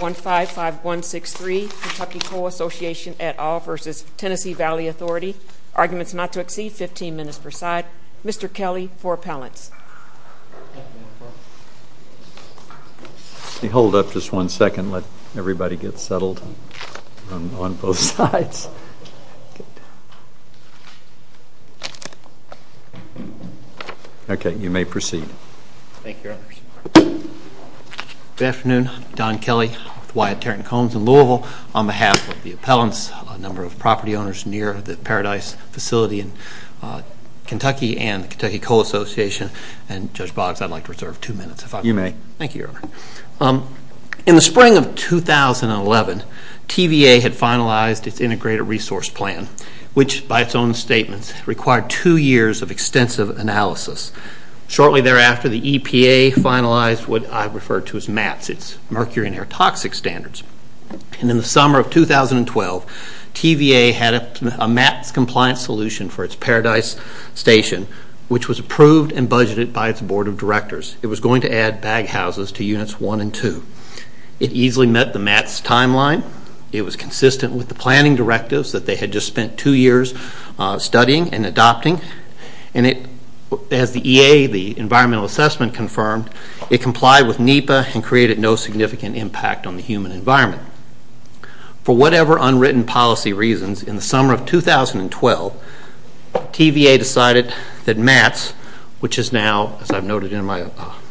155163 Kentucky Coal Association et al. v. Tennessee Valley Authority Arguments not to exceed 15 minutes per side Mr. Kelly for appellants Hold up just one second, let everybody get settled on both sides Good afternoon, I'm Don Kelly with Wyatt Tarrant Combs in Louisville. On behalf of the appellants, a number of property owners near the Paradise facility in Kentucky and the Kentucky Coal Association, and Judge Boggs, I'd like to reserve two minutes if I may. You may. Thank you, Your Honor. In the spring of 2011, TVA had finalized its Integrated Resource Plan, which by its own statements required two years of extensive analysis. Shortly thereafter, the EPA finalized what I refer to as MATS, its Mercury and Air Toxic Standards. In the summer of 2012, TVA had a MATS compliance solution for its Paradise station, which was approved and budgeted by its Board of Directors. It was going to add bag houses to Units 1 and 2. It easily met the MATS timeline. It was consistent with the planning directives that they had just spent two years studying and adopting. As the EA, the Environmental Assessment, confirmed, it complied with NEPA and created no significant impact on the human environment. For whatever unwritten policy reasons, in the summer of 2012, TVA decided that MATS, which is now, as I've noted in my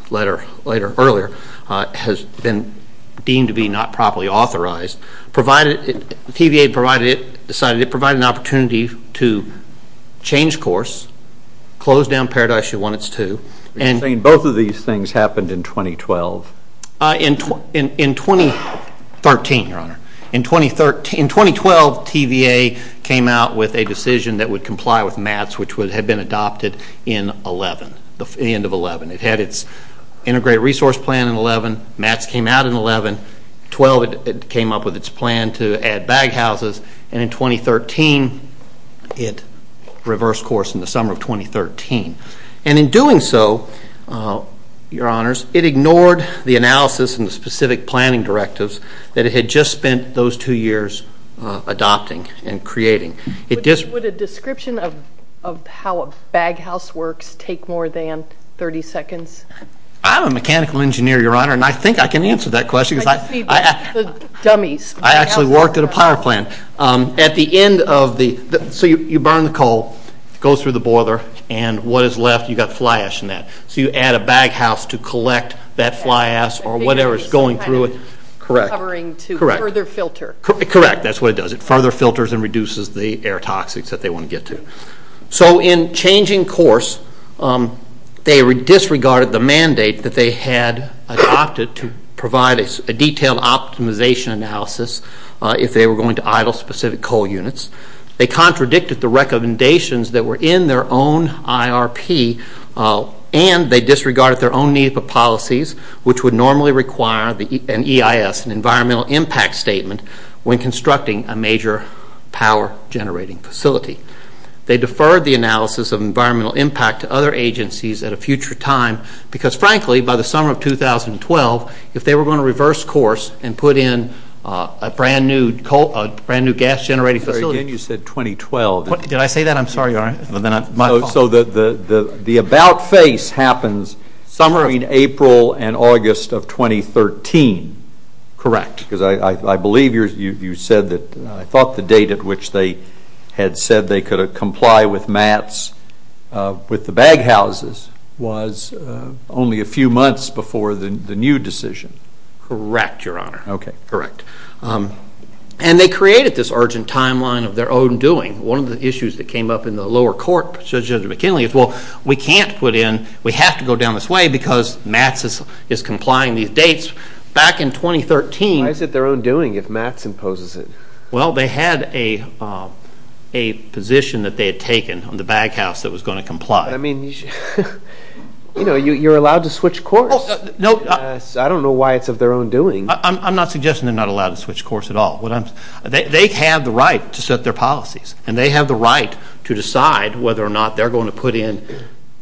letter earlier, has been deemed to be not properly authorized. TVA decided it provided an opportunity to change course, close down Paradise Unit 1, Unit 2. You're saying both of these things happened in 2012? In 2013, Your Honor. In 2012, TVA came out with a decision that would comply with MATS, which had been adopted in 2011, the end of 2011. It had its integrated resource plan in 2011. MATS came out in 2011. In 2012, it came up with its plan to add bag houses. And in 2013, it reversed course in the summer of 2013. And in doing so, Your Honors, it ignored the analysis and the specific planning directives that it had just spent those two years adopting and creating. Would a description of how a bag house works take more than 30 seconds? I'm a mechanical engineer, Your Honor, and I think I can answer that question. I see the dummies. I actually worked at a power plant. At the end of the, so you burn the coal, it goes through the boiler, and what is left, you've got fly ash in that. So you add a bag house to collect that fly ash or whatever is going through it. Correct. Covering to further filter. Correct, that's what it does. It further filters and reduces the air toxics that they want to get to. So in changing course, they disregarded the mandate that they had adopted to provide a detailed optimization analysis if they were going to idle specific coal units. They contradicted the recommendations that were in their own IRP, and they disregarded their own need for policies, which would normally require an EIS, an environmental impact statement, when constructing a major power generating facility. They deferred the analysis of environmental impact to other agencies at a future time because, frankly, by the summer of 2012, if they were going to reverse course and put in a brand new gas generating facility. Again, you said 2012. Did I say that? I'm sorry, Your Honor. So the about face happens between April and August of 2013. Correct. Because I believe you said that I thought the date at which they had said they could comply with MATS with the bag houses was only a few months before the new decision. Correct, Your Honor. Okay. Correct. And they created this urgent timeline of their own doing. One of the issues that came up in the lower court, Judge Judge McKinley, is, well, we can't put in, we have to go down this way because MATS is complying these dates. Back in 2013. Why is it their own doing if MATS imposes it? Well, they had a position that they had taken on the bag house that was going to comply. I mean, you know, you're allowed to switch course. No. I don't know why it's of their own doing. I'm not suggesting they're not allowed to switch course at all. They have the right to set their policies, and they have the right to decide whether or not they're going to put in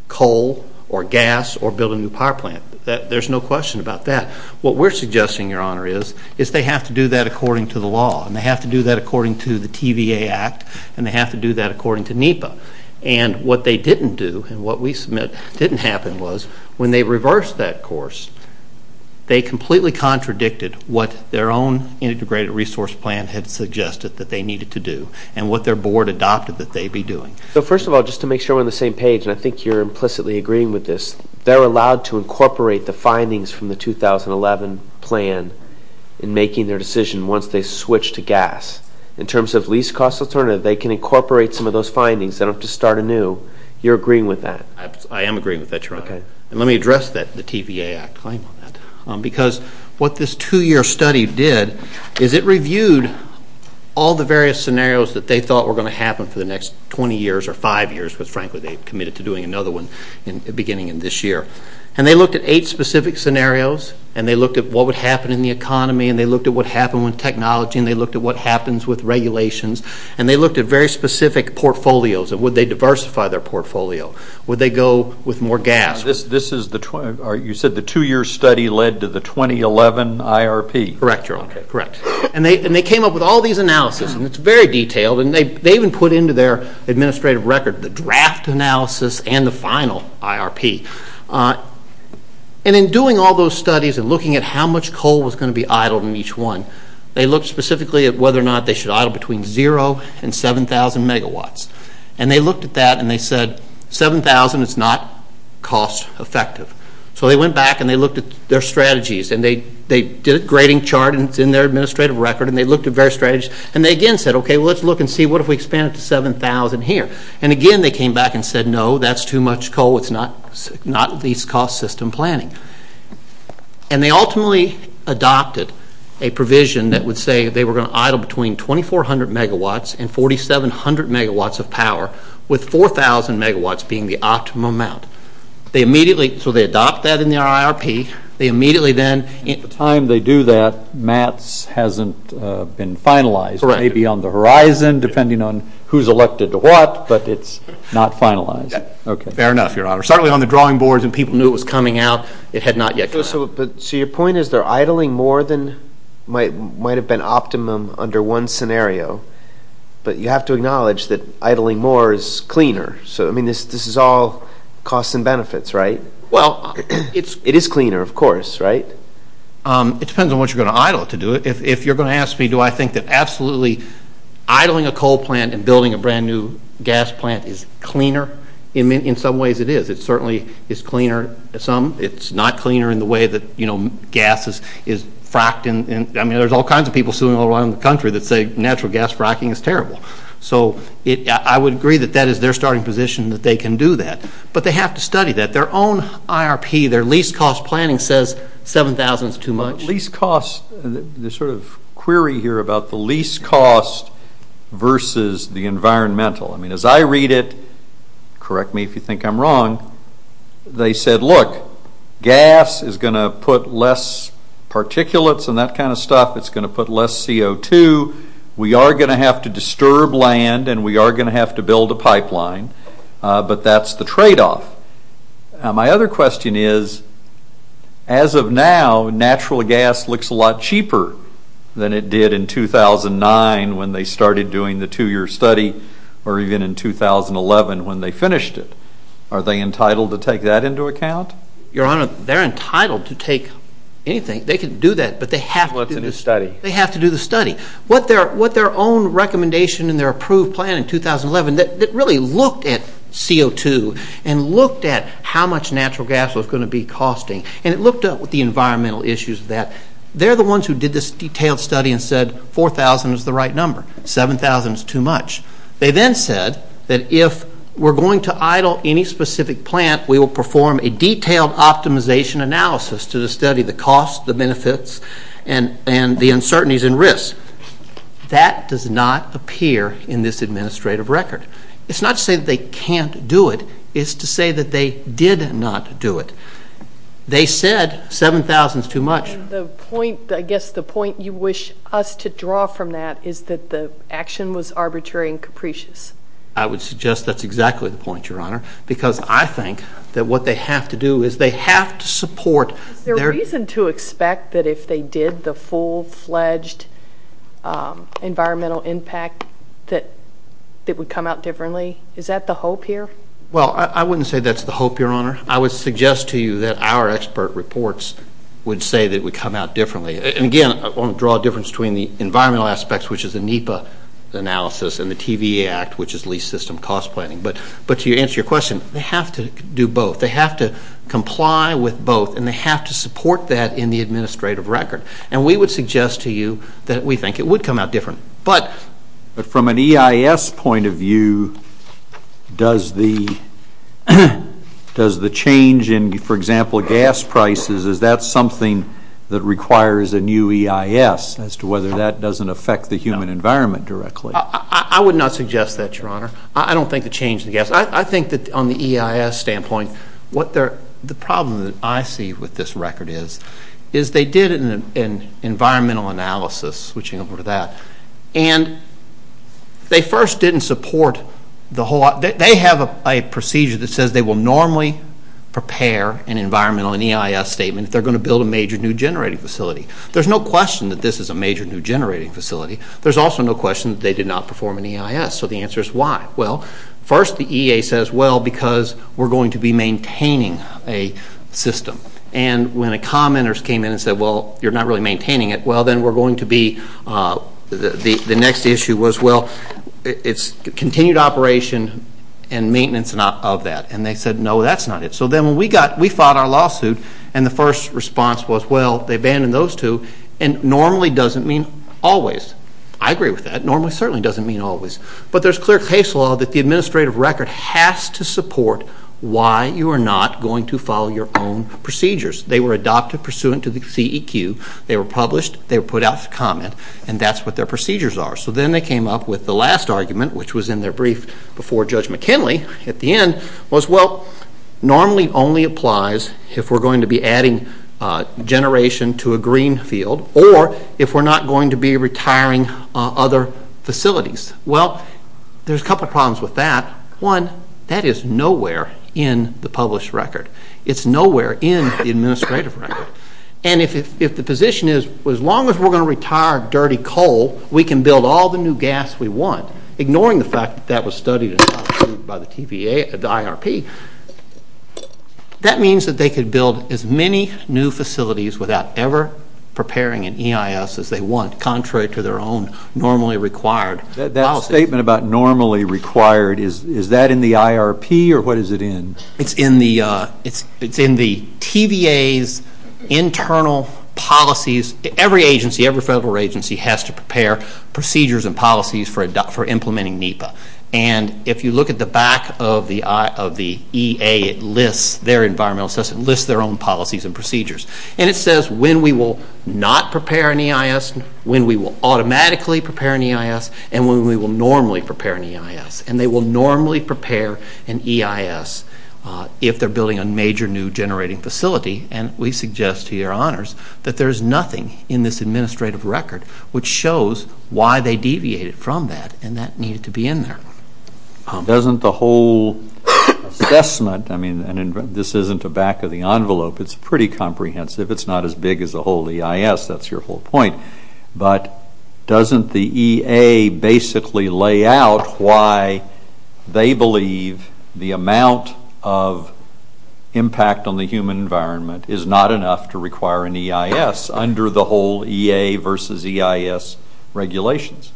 coal or gas or build a new power plant. There's no question about that. What we're suggesting, Your Honor, is they have to do that according to the law, and they have to do that according to the TVA Act, and they have to do that according to NEPA. And what they didn't do and what we submit didn't happen was when they reversed that course, they completely contradicted what their own integrated resource plan had suggested that they needed to do and what their board adopted that they'd be doing. So, first of all, just to make sure we're on the same page, and I think you're implicitly agreeing with this, they're allowed to incorporate the findings from the 2011 plan in making their decision once they switch to gas. In terms of least-cost alternative, they can incorporate some of those findings. They don't have to start anew. You're agreeing with that? I am agreeing with that, Your Honor. Okay. And let me address that, the TVA Act claim on that, because what this two-year study did is it reviewed all the various scenarios that they thought were going to happen for the next 20 years or five years, because, frankly, they committed to doing another one beginning in this year, and they looked at eight specific scenarios, and they looked at what would happen in the economy, and they looked at what happened with technology, and they looked at what happens with regulations, and they looked at very specific portfolios. Would they diversify their portfolio? Would they go with more gas? You said the two-year study led to the 2011 IRP? Correct, Your Honor. Okay. Correct. And they came up with all these analyses, and it's very detailed, and they even put into their administrative record the draft analysis and the final IRP. And in doing all those studies and looking at how much coal was going to be idled in each one, they looked specifically at whether or not they should idle between zero and 7,000 megawatts, and they looked at that, and they said 7,000 is not cost-effective. So they went back, and they looked at their strategies, and they did a grading chart, and it's in their administrative record, and they looked at various strategies, and they again said, okay, well, let's look and see, what if we expand it to 7,000 here? And again, they came back and said, no, that's too much coal. It's not least-cost system planning. And they ultimately adopted a provision that would say they were going to idle between 2,400 megawatts and 4,700 megawatts of power, with 4,000 megawatts being the optimum amount. They immediately, so they adopted that in their IRP. They immediately then ---- At the time they do that, maths hasn't been finalized. Correct. It may be on the horizon, depending on who's elected to what, but it's not finalized. Okay. Fair enough, Your Honor. Certainly on the drawing boards and people knew it was coming out, it had not yet come out. So your point is they're idling more than might have been optimum under one scenario, but you have to acknowledge that idling more is cleaner. So, I mean, this is all costs and benefits, right? Well, it's ---- It is cleaner, of course, right? It depends on what you're going to idle to do it. If you're going to ask me do I think that absolutely idling a coal plant and building a brand-new gas plant is cleaner, in some ways it is. It certainly is cleaner some. It's not cleaner in the way that, you know, gas is fracked. I mean, there's all kinds of people suing all around the country that say natural gas fracking is terrible. So I would agree that that is their starting position, that they can do that. But they have to study that. Their own IRP, their least-cost planning says 7,000 is too much. There's a sort of query here about the least cost versus the environmental. I mean, as I read it, correct me if you think I'm wrong, they said, look, gas is going to put less particulates and that kind of stuff. It's going to put less CO2. We are going to have to disturb land, and we are going to have to build a pipeline. But that's the tradeoff. My other question is, as of now, natural gas looks a lot cheaper than it did in 2009 when they started doing the two-year study or even in 2011 when they finished it. Are they entitled to take that into account? Your Honor, they're entitled to take anything. They can do that, but they have to do the study. What their own recommendation in their approved plan in 2011, that really looked at CO2 and looked at how much natural gas was going to be costing, and it looked at the environmental issues of that, they're the ones who did this detailed study and said 4,000 is the right number. 7,000 is too much. They then said that if we're going to idle any specific plant, we will perform a detailed optimization analysis to the study, the cost, the benefits, and the uncertainties and risks. That does not appear in this administrative record. It's not to say that they can't do it. It's to say that they did not do it. They said 7,000 is too much. I guess the point you wish us to draw from that is that the action was arbitrary and capricious. I would suggest that's exactly the point, Your Honor, because I think that what they have to do is they have to support... environmental impact that would come out differently. Is that the hope here? Well, I wouldn't say that's the hope, Your Honor. I would suggest to you that our expert reports would say that it would come out differently. And, again, I want to draw a difference between the environmental aspects, which is the NEPA analysis, and the TVA Act, which is leased system cost planning. But to answer your question, they have to do both. They have to comply with both, and they have to support that in the administrative record. And we would suggest to you that we think it would come out differently. But... But from an EIS point of view, does the change in, for example, gas prices, is that something that requires a new EIS as to whether that doesn't affect the human environment directly? I would not suggest that, Your Honor. I don't think the change in the gas... I think that on the EIS standpoint, the problem that I see with this record is they did an environmental analysis, switching over to that, and they first didn't support the whole... They have a procedure that says they will normally prepare an environmental and EIS statement if they're going to build a major new generating facility. There's no question that this is a major new generating facility. There's also no question that they did not perform an EIS. So the answer is why. Well, first the EA says, well, because we're going to be maintaining a system. And when the commenters came in and said, well, you're not really maintaining it, well, then we're going to be... The next issue was, well, it's continued operation and maintenance of that. And they said, no, that's not it. So then when we got... We filed our lawsuit, and the first response was, well, they abandoned those two, and normally doesn't mean always. I agree with that. Normally certainly doesn't mean always. But there's clear case law that the administrative record has to support why you are not going to follow your own procedures. They were adopted pursuant to the CEQ. They were published. They were put out to comment. And that's what their procedures are. So then they came up with the last argument, which was in their brief before Judge McKinley at the end, was, well, normally only applies if we're going to be adding generation to a green field or if we're not going to be retiring other facilities. Well, there's a couple problems with that. One, that is nowhere in the published record. It's nowhere in the administrative record. And if the position is, well, as long as we're going to retire dirty coal, we can build all the new gas we want, ignoring the fact that that was studied by the TVA, the IRP, that means that they could build as many new facilities without ever preparing an EIS as they want, contrary to their own normally required policies. The statement about normally required, is that in the IRP or what is it in? It's in the TVA's internal policies. Every agency, every federal agency has to prepare procedures and policies for implementing NEPA. And if you look at the back of the EA, it lists their environmental assessment, it lists their own policies and procedures. And it says when we will not prepare an EIS, when we will automatically prepare an EIS, and when we will normally prepare an EIS. And they will normally prepare an EIS if they're building a major new generating facility. And we suggest to your honors that there is nothing in this administrative record which shows why they deviated from that and that needed to be in there. Doesn't the whole assessment, I mean, this isn't the back of the envelope, it's pretty comprehensive, it's not as big as the whole EIS, that's your whole point. But doesn't the EA basically lay out why they believe the amount of impact on the human environment is not enough to require an EIS under the whole EA versus EIS regulations?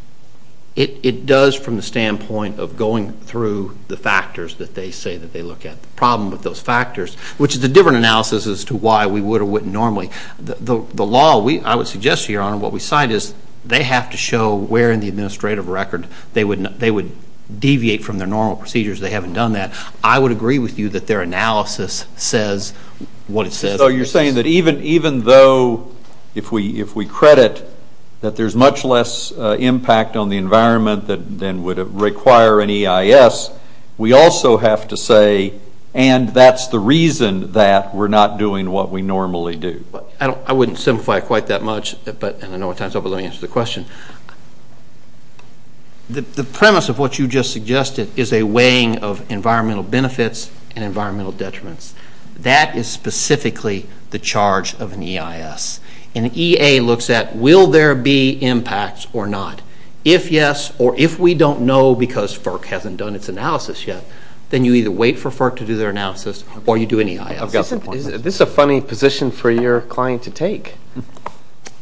It does from the standpoint of going through the factors that they say that they look at. The problem with those factors, which is a different analysis as to why we would or wouldn't normally. The law, I would suggest to your honor, what we cite is they have to show where in the administrative record they would deviate from their normal procedures. They haven't done that. I would agree with you that their analysis says what it says. So you're saying that even though if we credit that there's much less impact on the environment than would require an EIS, we also have to say, and that's the reason that we're not doing what we normally do. I wouldn't simplify it quite that much, and I know what time it is, but let me answer the question. The premise of what you just suggested is a weighing of environmental benefits and environmental detriments. That is specifically the charge of an EIS. An EA looks at will there be impacts or not. If yes, or if we don't know because FERC hasn't done its analysis yet, then you either wait for FERC to do their analysis or you do an EIS. This is a funny position for your client to take.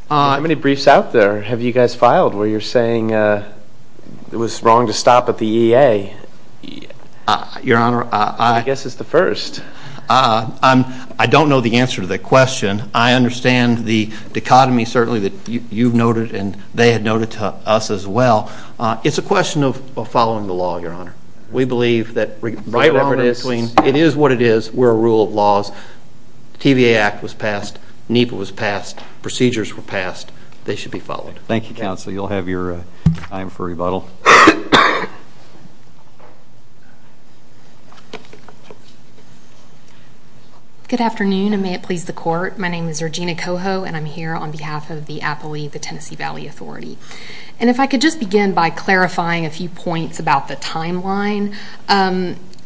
How many briefs out there have you guys filed where you're saying it was wrong to stop at the EA? Your honor, I'm going to guess it's the first. I don't know the answer to that question. I understand the dichotomy certainly that you've noted and they had noted to us as well. It's a question of following the law, your honor. We believe that right or wrong in between, it is what it is. We're a rule of laws. The TVA Act was passed. NEPA was passed. Procedures were passed. They should be followed. Thank you, counsel. You'll have your time for rebuttal. Good afternoon, and may it please the court. My name is Regina Coho, and I'm here on behalf of the Appley, the Tennessee Valley Authority. If I could just begin by clarifying a few points about the timeline.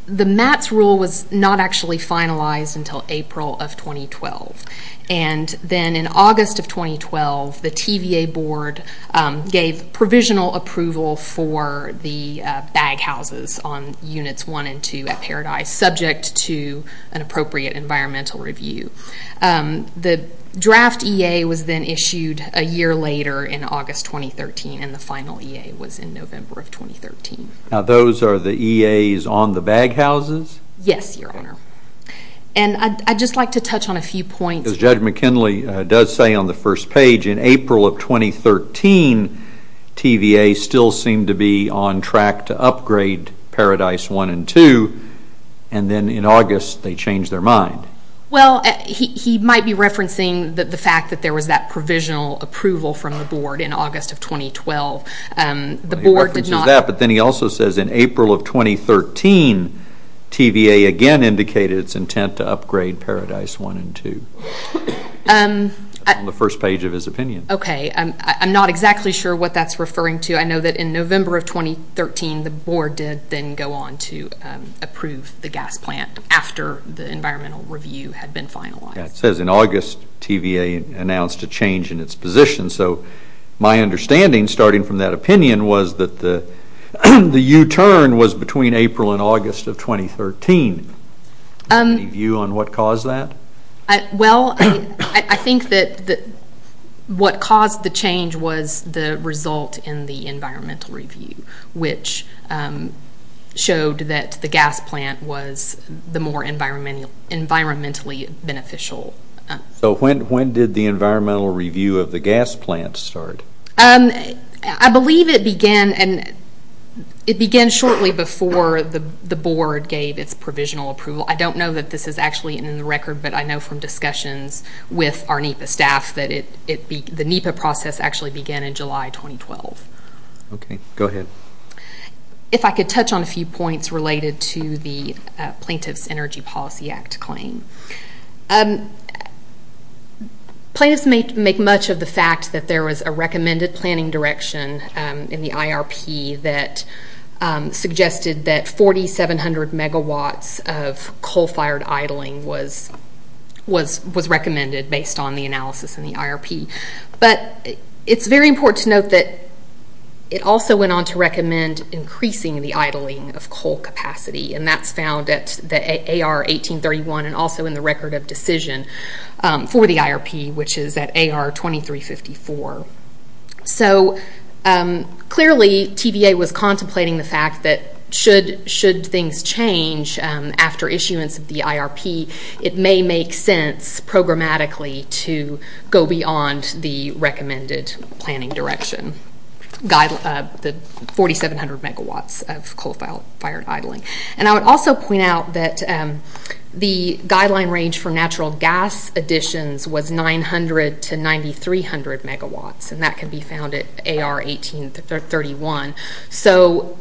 The MATS rule was not actually finalized until April of 2012. Then in August of 2012, the TVA board gave provisional approval for the bag houses on Units 1 and 2 at Paradise, subject to an appropriate environmental review. The draft EA was then issued a year later in August 2013, and the final EA was in November of 2013. Now, those are the EAs on the bag houses? Yes, your honor. And I'd just like to touch on a few points. As Judge McKinley does say on the first page, in April of 2013, TVA still seemed to be on track to upgrade Paradise 1 and 2, and then in August they changed their mind. Well, he might be referencing the fact that there was that provisional approval from the board in August of 2012. Well, he references that, but then he also says in April of 2013, TVA again indicated its intent to upgrade Paradise 1 and 2 on the first page of his opinion. Okay. I'm not exactly sure what that's referring to. I know that in November of 2013, the board did then go on to approve the gas plant after the environmental review had been finalized. It says in August TVA announced a change in its position. So my understanding, starting from that opinion, was that the U-turn was between April and August of 2013. Do you have any view on what caused that? Well, I think that what caused the change was the result in the environmental review, which showed that the gas plant was the more environmentally beneficial. So when did the environmental review of the gas plant start? I believe it began shortly before the board gave its provisional approval. I don't know that this is actually in the record, but I know from discussions with our NEPA staff that the NEPA process actually began in July 2012. Okay. Go ahead. If I could touch on a few points related to the Plaintiff's Energy Policy Act claim. Plaintiffs make much of the fact that there was a recommended planning direction in the IRP that suggested that 4,700 megawatts of coal-fired idling was recommended based on the analysis in the IRP. But it's very important to note that it also went on to recommend increasing the idling of coal capacity, and that's found at the AR 1831 and also in the record of decision for the IRP, which is at AR 2354. So clearly TVA was contemplating the fact that should things change after issuance of the IRP, it may make sense programmatically to go beyond the recommended planning direction, the 4,700 megawatts of coal-fired idling. And I would also point out that the guideline range for natural gas additions was 900 to 9,300 megawatts, and that can be found at AR 1831. So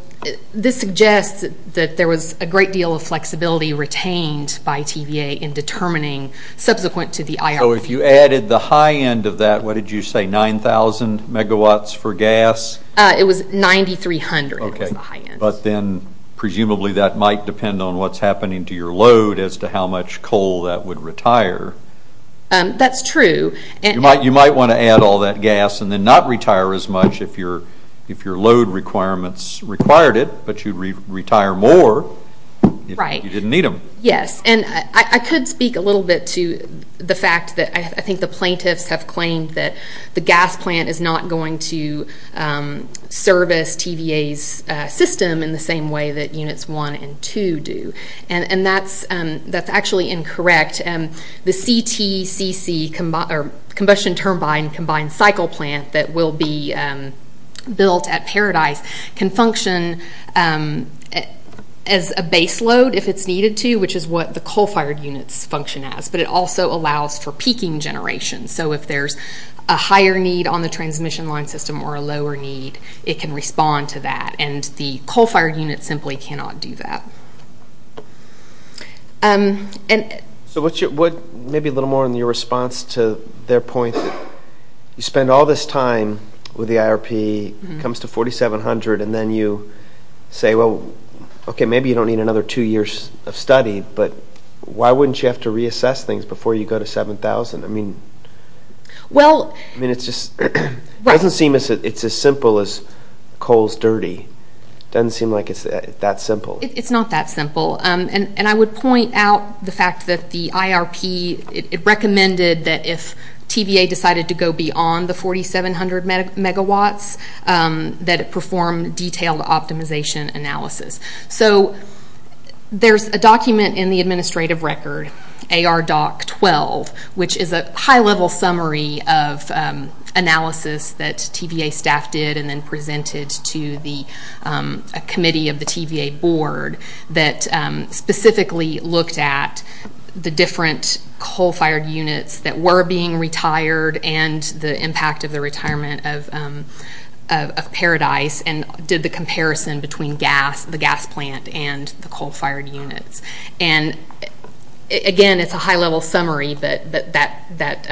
this suggests that there was a great deal of flexibility retained by TVA in determining subsequent to the IRP. So if you added the high end of that, what did you say, 9,000 megawatts for gas? It was 9,300 was the high end. But then presumably that might depend on what's happening to your load as to how much coal that would retire. That's true. You might want to add all that gas and then not retire as much if your load requirements required it, but you'd retire more if you didn't need them. Yes, and I could speak a little bit to the fact that I think the plaintiffs have claimed that the gas plant is not going to service TVA's system in the same way that Units 1 and 2 do, and that's actually incorrect. The CTCC, Combustion Turbine Combined Cycle Plant, that will be built at Paradise, can function as a base load if it's needed to, which is what the coal-fired units function as, but it also allows for peaking generation. So if there's a higher need on the transmission line system or a lower need, it can respond to that, and the coal-fired units simply cannot do that. So maybe a little more on your response to their point that you spend all this time with the IRP, it comes to 4,700, and then you say, well, okay, maybe you don't need another two years of study, but why wouldn't you have to reassess things before you go to 7,000? I mean, it doesn't seem it's as simple as coal's dirty. It doesn't seem like it's that simple. It's not that simple, and I would point out the fact that the IRP, it recommended that if TVA decided to go beyond the 4,700 megawatts, that it perform detailed optimization analysis. So there's a document in the administrative record, AR DOC 12, which is a high-level summary of analysis that TVA staff did and then presented to a committee of the TVA board that specifically looked at the different coal-fired units that were being retired and the impact of the retirement of Paradise and did the comparison between the gas plant and the coal-fired units. And again, it's a high-level summary, but that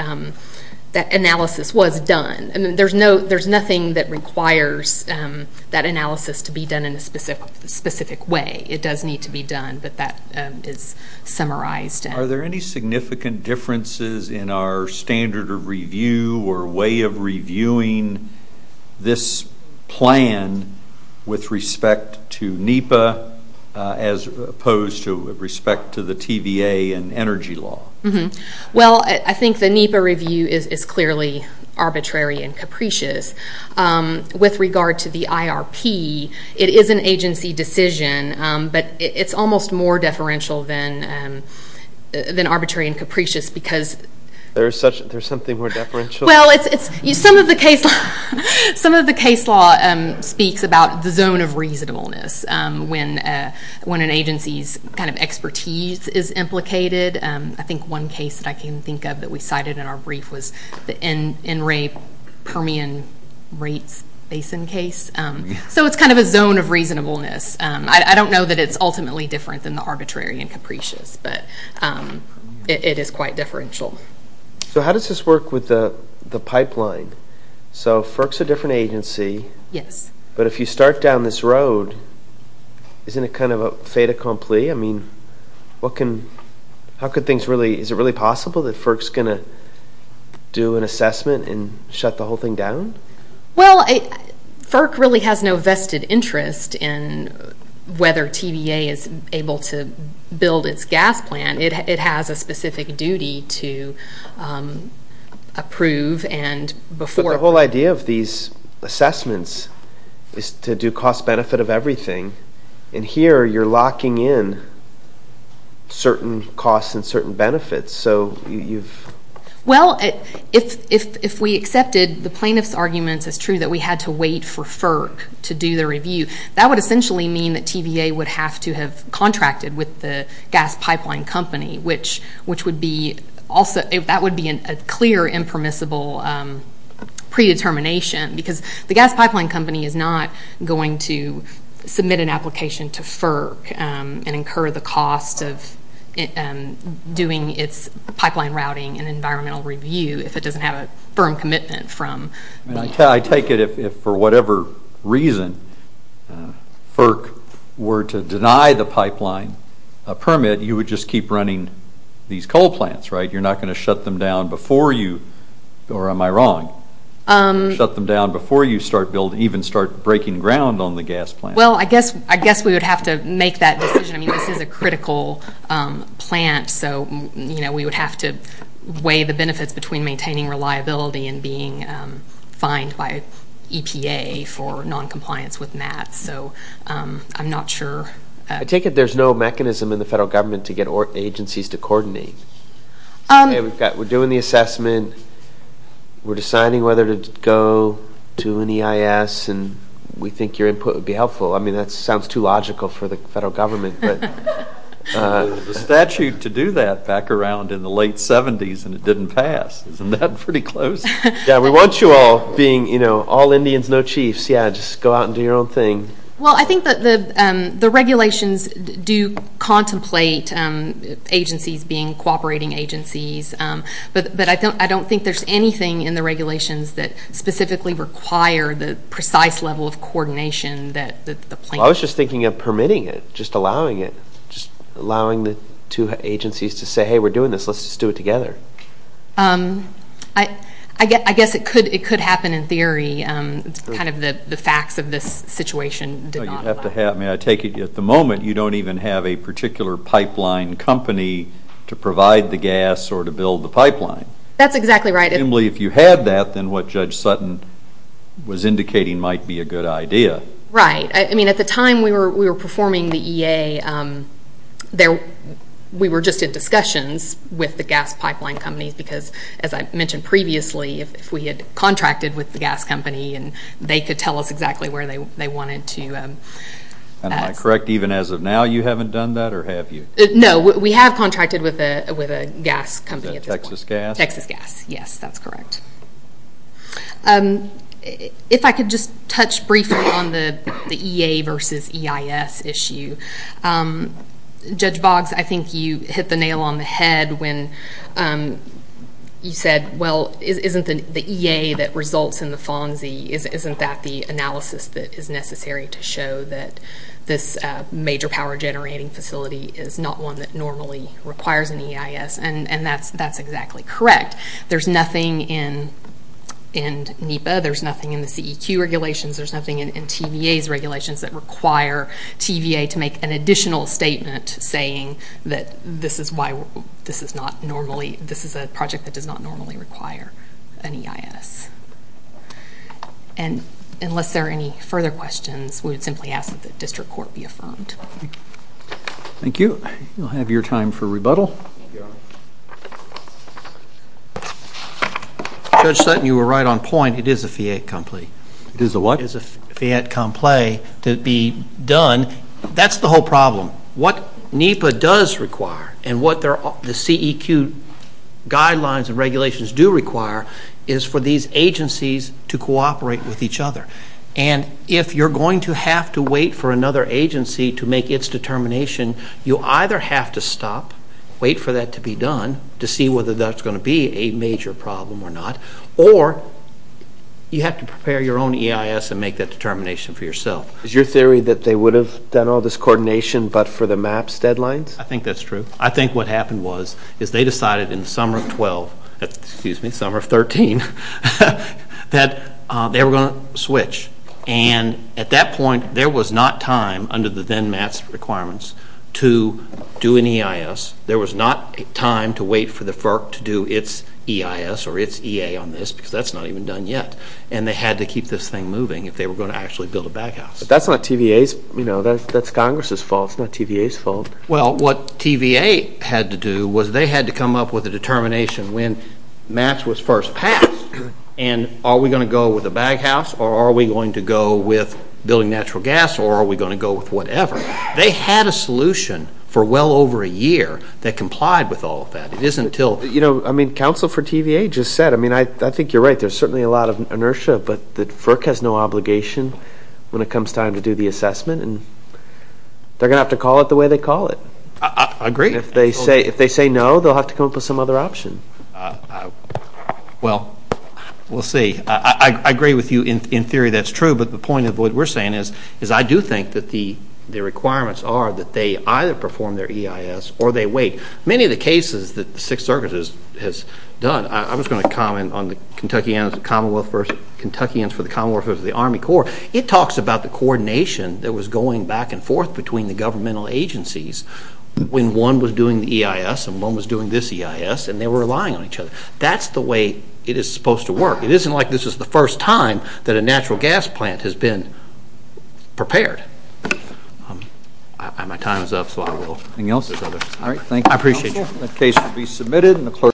analysis was done. I mean, there's nothing that requires that analysis to be done in a specific way. It does need to be done, but that is summarized. Are there any significant differences in our standard of review or way of reviewing this plan with respect to NEPA as opposed to with respect to the TVA and energy law? Well, I think the NEPA review is clearly arbitrary and capricious. With regard to the IRP, it is an agency decision, but it's almost more deferential than arbitrary and capricious because – There's something more deferential? Well, some of the case law speaks about the zone of reasonableness when an agency's kind of expertise is implicated. I think one case that I can think of that we cited in our brief was the NRA Permian rates basin case. So it's kind of a zone of reasonableness. I don't know that it's ultimately different than the arbitrary and capricious, but it is quite differential. So how does this work with the pipeline? So FERC's a different agency. Yes. But if you start down this road, isn't it kind of a fait accompli? I mean, is it really possible that FERC's going to do an assessment and shut the whole thing down? Well, FERC really has no vested interest in whether TVA is able to build its gas plant. It has a specific duty to approve and before – But the whole idea of these assessments is to do cost-benefit of everything, and here you're locking in certain costs and certain benefits, so you've – Well, if we accepted the plaintiff's arguments as true that we had to wait for FERC to do the review, that would essentially mean that TVA would have to have contracted with the gas pipeline company, which would be – that would be a clear impermissible predetermination because the gas pipeline company is not going to submit an application to FERC and incur the cost of doing its pipeline routing and environmental review if it doesn't have a firm commitment from – I take it if, for whatever reason, FERC were to deny the pipeline a permit, you would just keep running these coal plants, right? You're not going to shut them down before you – or am I wrong? Shut them down before you start building – even start breaking ground on the gas plant. Well, I guess we would have to make that decision. I mean, this is a critical plant, so, you know, we would have to weigh the benefits between maintaining reliability and being fined by EPA for noncompliance with MAT, so I'm not sure. I take it there's no mechanism in the federal government to get agencies to coordinate. We're doing the assessment, we're deciding whether to go to an EIS, and we think your input would be helpful. I mean, that sounds too logical for the federal government. The statute to do that back around in the late 70s, and it didn't pass. Isn't that pretty close? Yeah, we want you all being all Indians, no chiefs. Yeah, just go out and do your own thing. Well, I think that the regulations do contemplate agencies being cooperating agencies, but I don't think there's anything in the regulations that specifically require the precise level of coordination that the plant needs. Well, I was just thinking of permitting it, just allowing it, just allowing the two agencies to say, hey, we're doing this, let's just do it together. I guess it could happen in theory. It's kind of the facts of this situation did not apply. May I take it at the moment you don't even have a particular pipeline company to provide the gas or to build the pipeline? That's exactly right. If you had that, then what Judge Sutton was indicating might be a good idea. Right. I mean, at the time we were performing the EA, we were just in discussions with the gas pipeline companies because, as I mentioned previously, if we had contracted with the gas company and they could tell us exactly where they wanted to. Am I correct even as of now you haven't done that or have you? No, we have contracted with a gas company at this point. Is that Texas Gas? Texas Gas, yes, that's correct. If I could just touch briefly on the EA versus EIS issue, Judge Boggs, I think you hit the nail on the head when you said, well, isn't the EA that results in the FONSI, isn't that the analysis that is necessary to show that this major power generating facility is not one that normally requires an EIS? And that's exactly correct. There's nothing in NEPA, there's nothing in the CEQ regulations, there's nothing in TVA's regulations that require TVA to make an additional statement saying that this is a project that does not normally require an EIS. And unless there are any further questions, we would simply ask that the district court be affirmed. Thank you. We'll have your time for rebuttal. Judge Sutton, you were right on point. It is a fiat compli. It is a what? It is a fiat compli to be done. That's the whole problem. What NEPA does require and what the CEQ guidelines and regulations do require is for these agencies to cooperate with each other. And if you're going to have to wait for another agency to make its determination, you either have to stop, wait for that to be done, to see whether that's going to be a major problem or not, or you have to prepare your own EIS and make that determination for yourself. Is your theory that they would have done all this coordination but for the MAPS deadlines? I think that's true. I think what happened was is they decided in the summer of 12, and at that point there was not time under the then MAPS requirements to do an EIS. There was not time to wait for the FERC to do its EIS or its EA on this because that's not even done yet, and they had to keep this thing moving if they were going to actually build a baghouse. But that's not TVA's fault. That's Congress's fault. It's not TVA's fault. Well, what TVA had to do was they had to come up with a determination when MAPS was first passed, and are we going to go with a baghouse, or are we going to go with building natural gas, or are we going to go with whatever. They had a solution for well over a year that complied with all of that. You know, I mean, counsel for TVA just said, I mean, I think you're right. There's certainly a lot of inertia, but the FERC has no obligation when it comes time to do the assessment, and they're going to have to call it the way they call it. I agree. If they say no, they'll have to come up with some other option. Well, we'll see. I agree with you in theory that's true, but the point of what we're saying is I do think that the requirements are that they either perform their EIS or they wait. Many of the cases that the Sixth Circuit has done, I was going to comment on the Kentuckyans for the Commonwealth versus the Army Corps. It talks about the coordination that was going back and forth between the governmental agencies when one was doing the EIS and one was doing this EIS, and they were relying on each other. That's the way it is supposed to work. It isn't like this is the first time that a natural gas plant has been prepared. My time is up, so I will. Anything else? All right. Thank you. I appreciate you. The case will be submitted.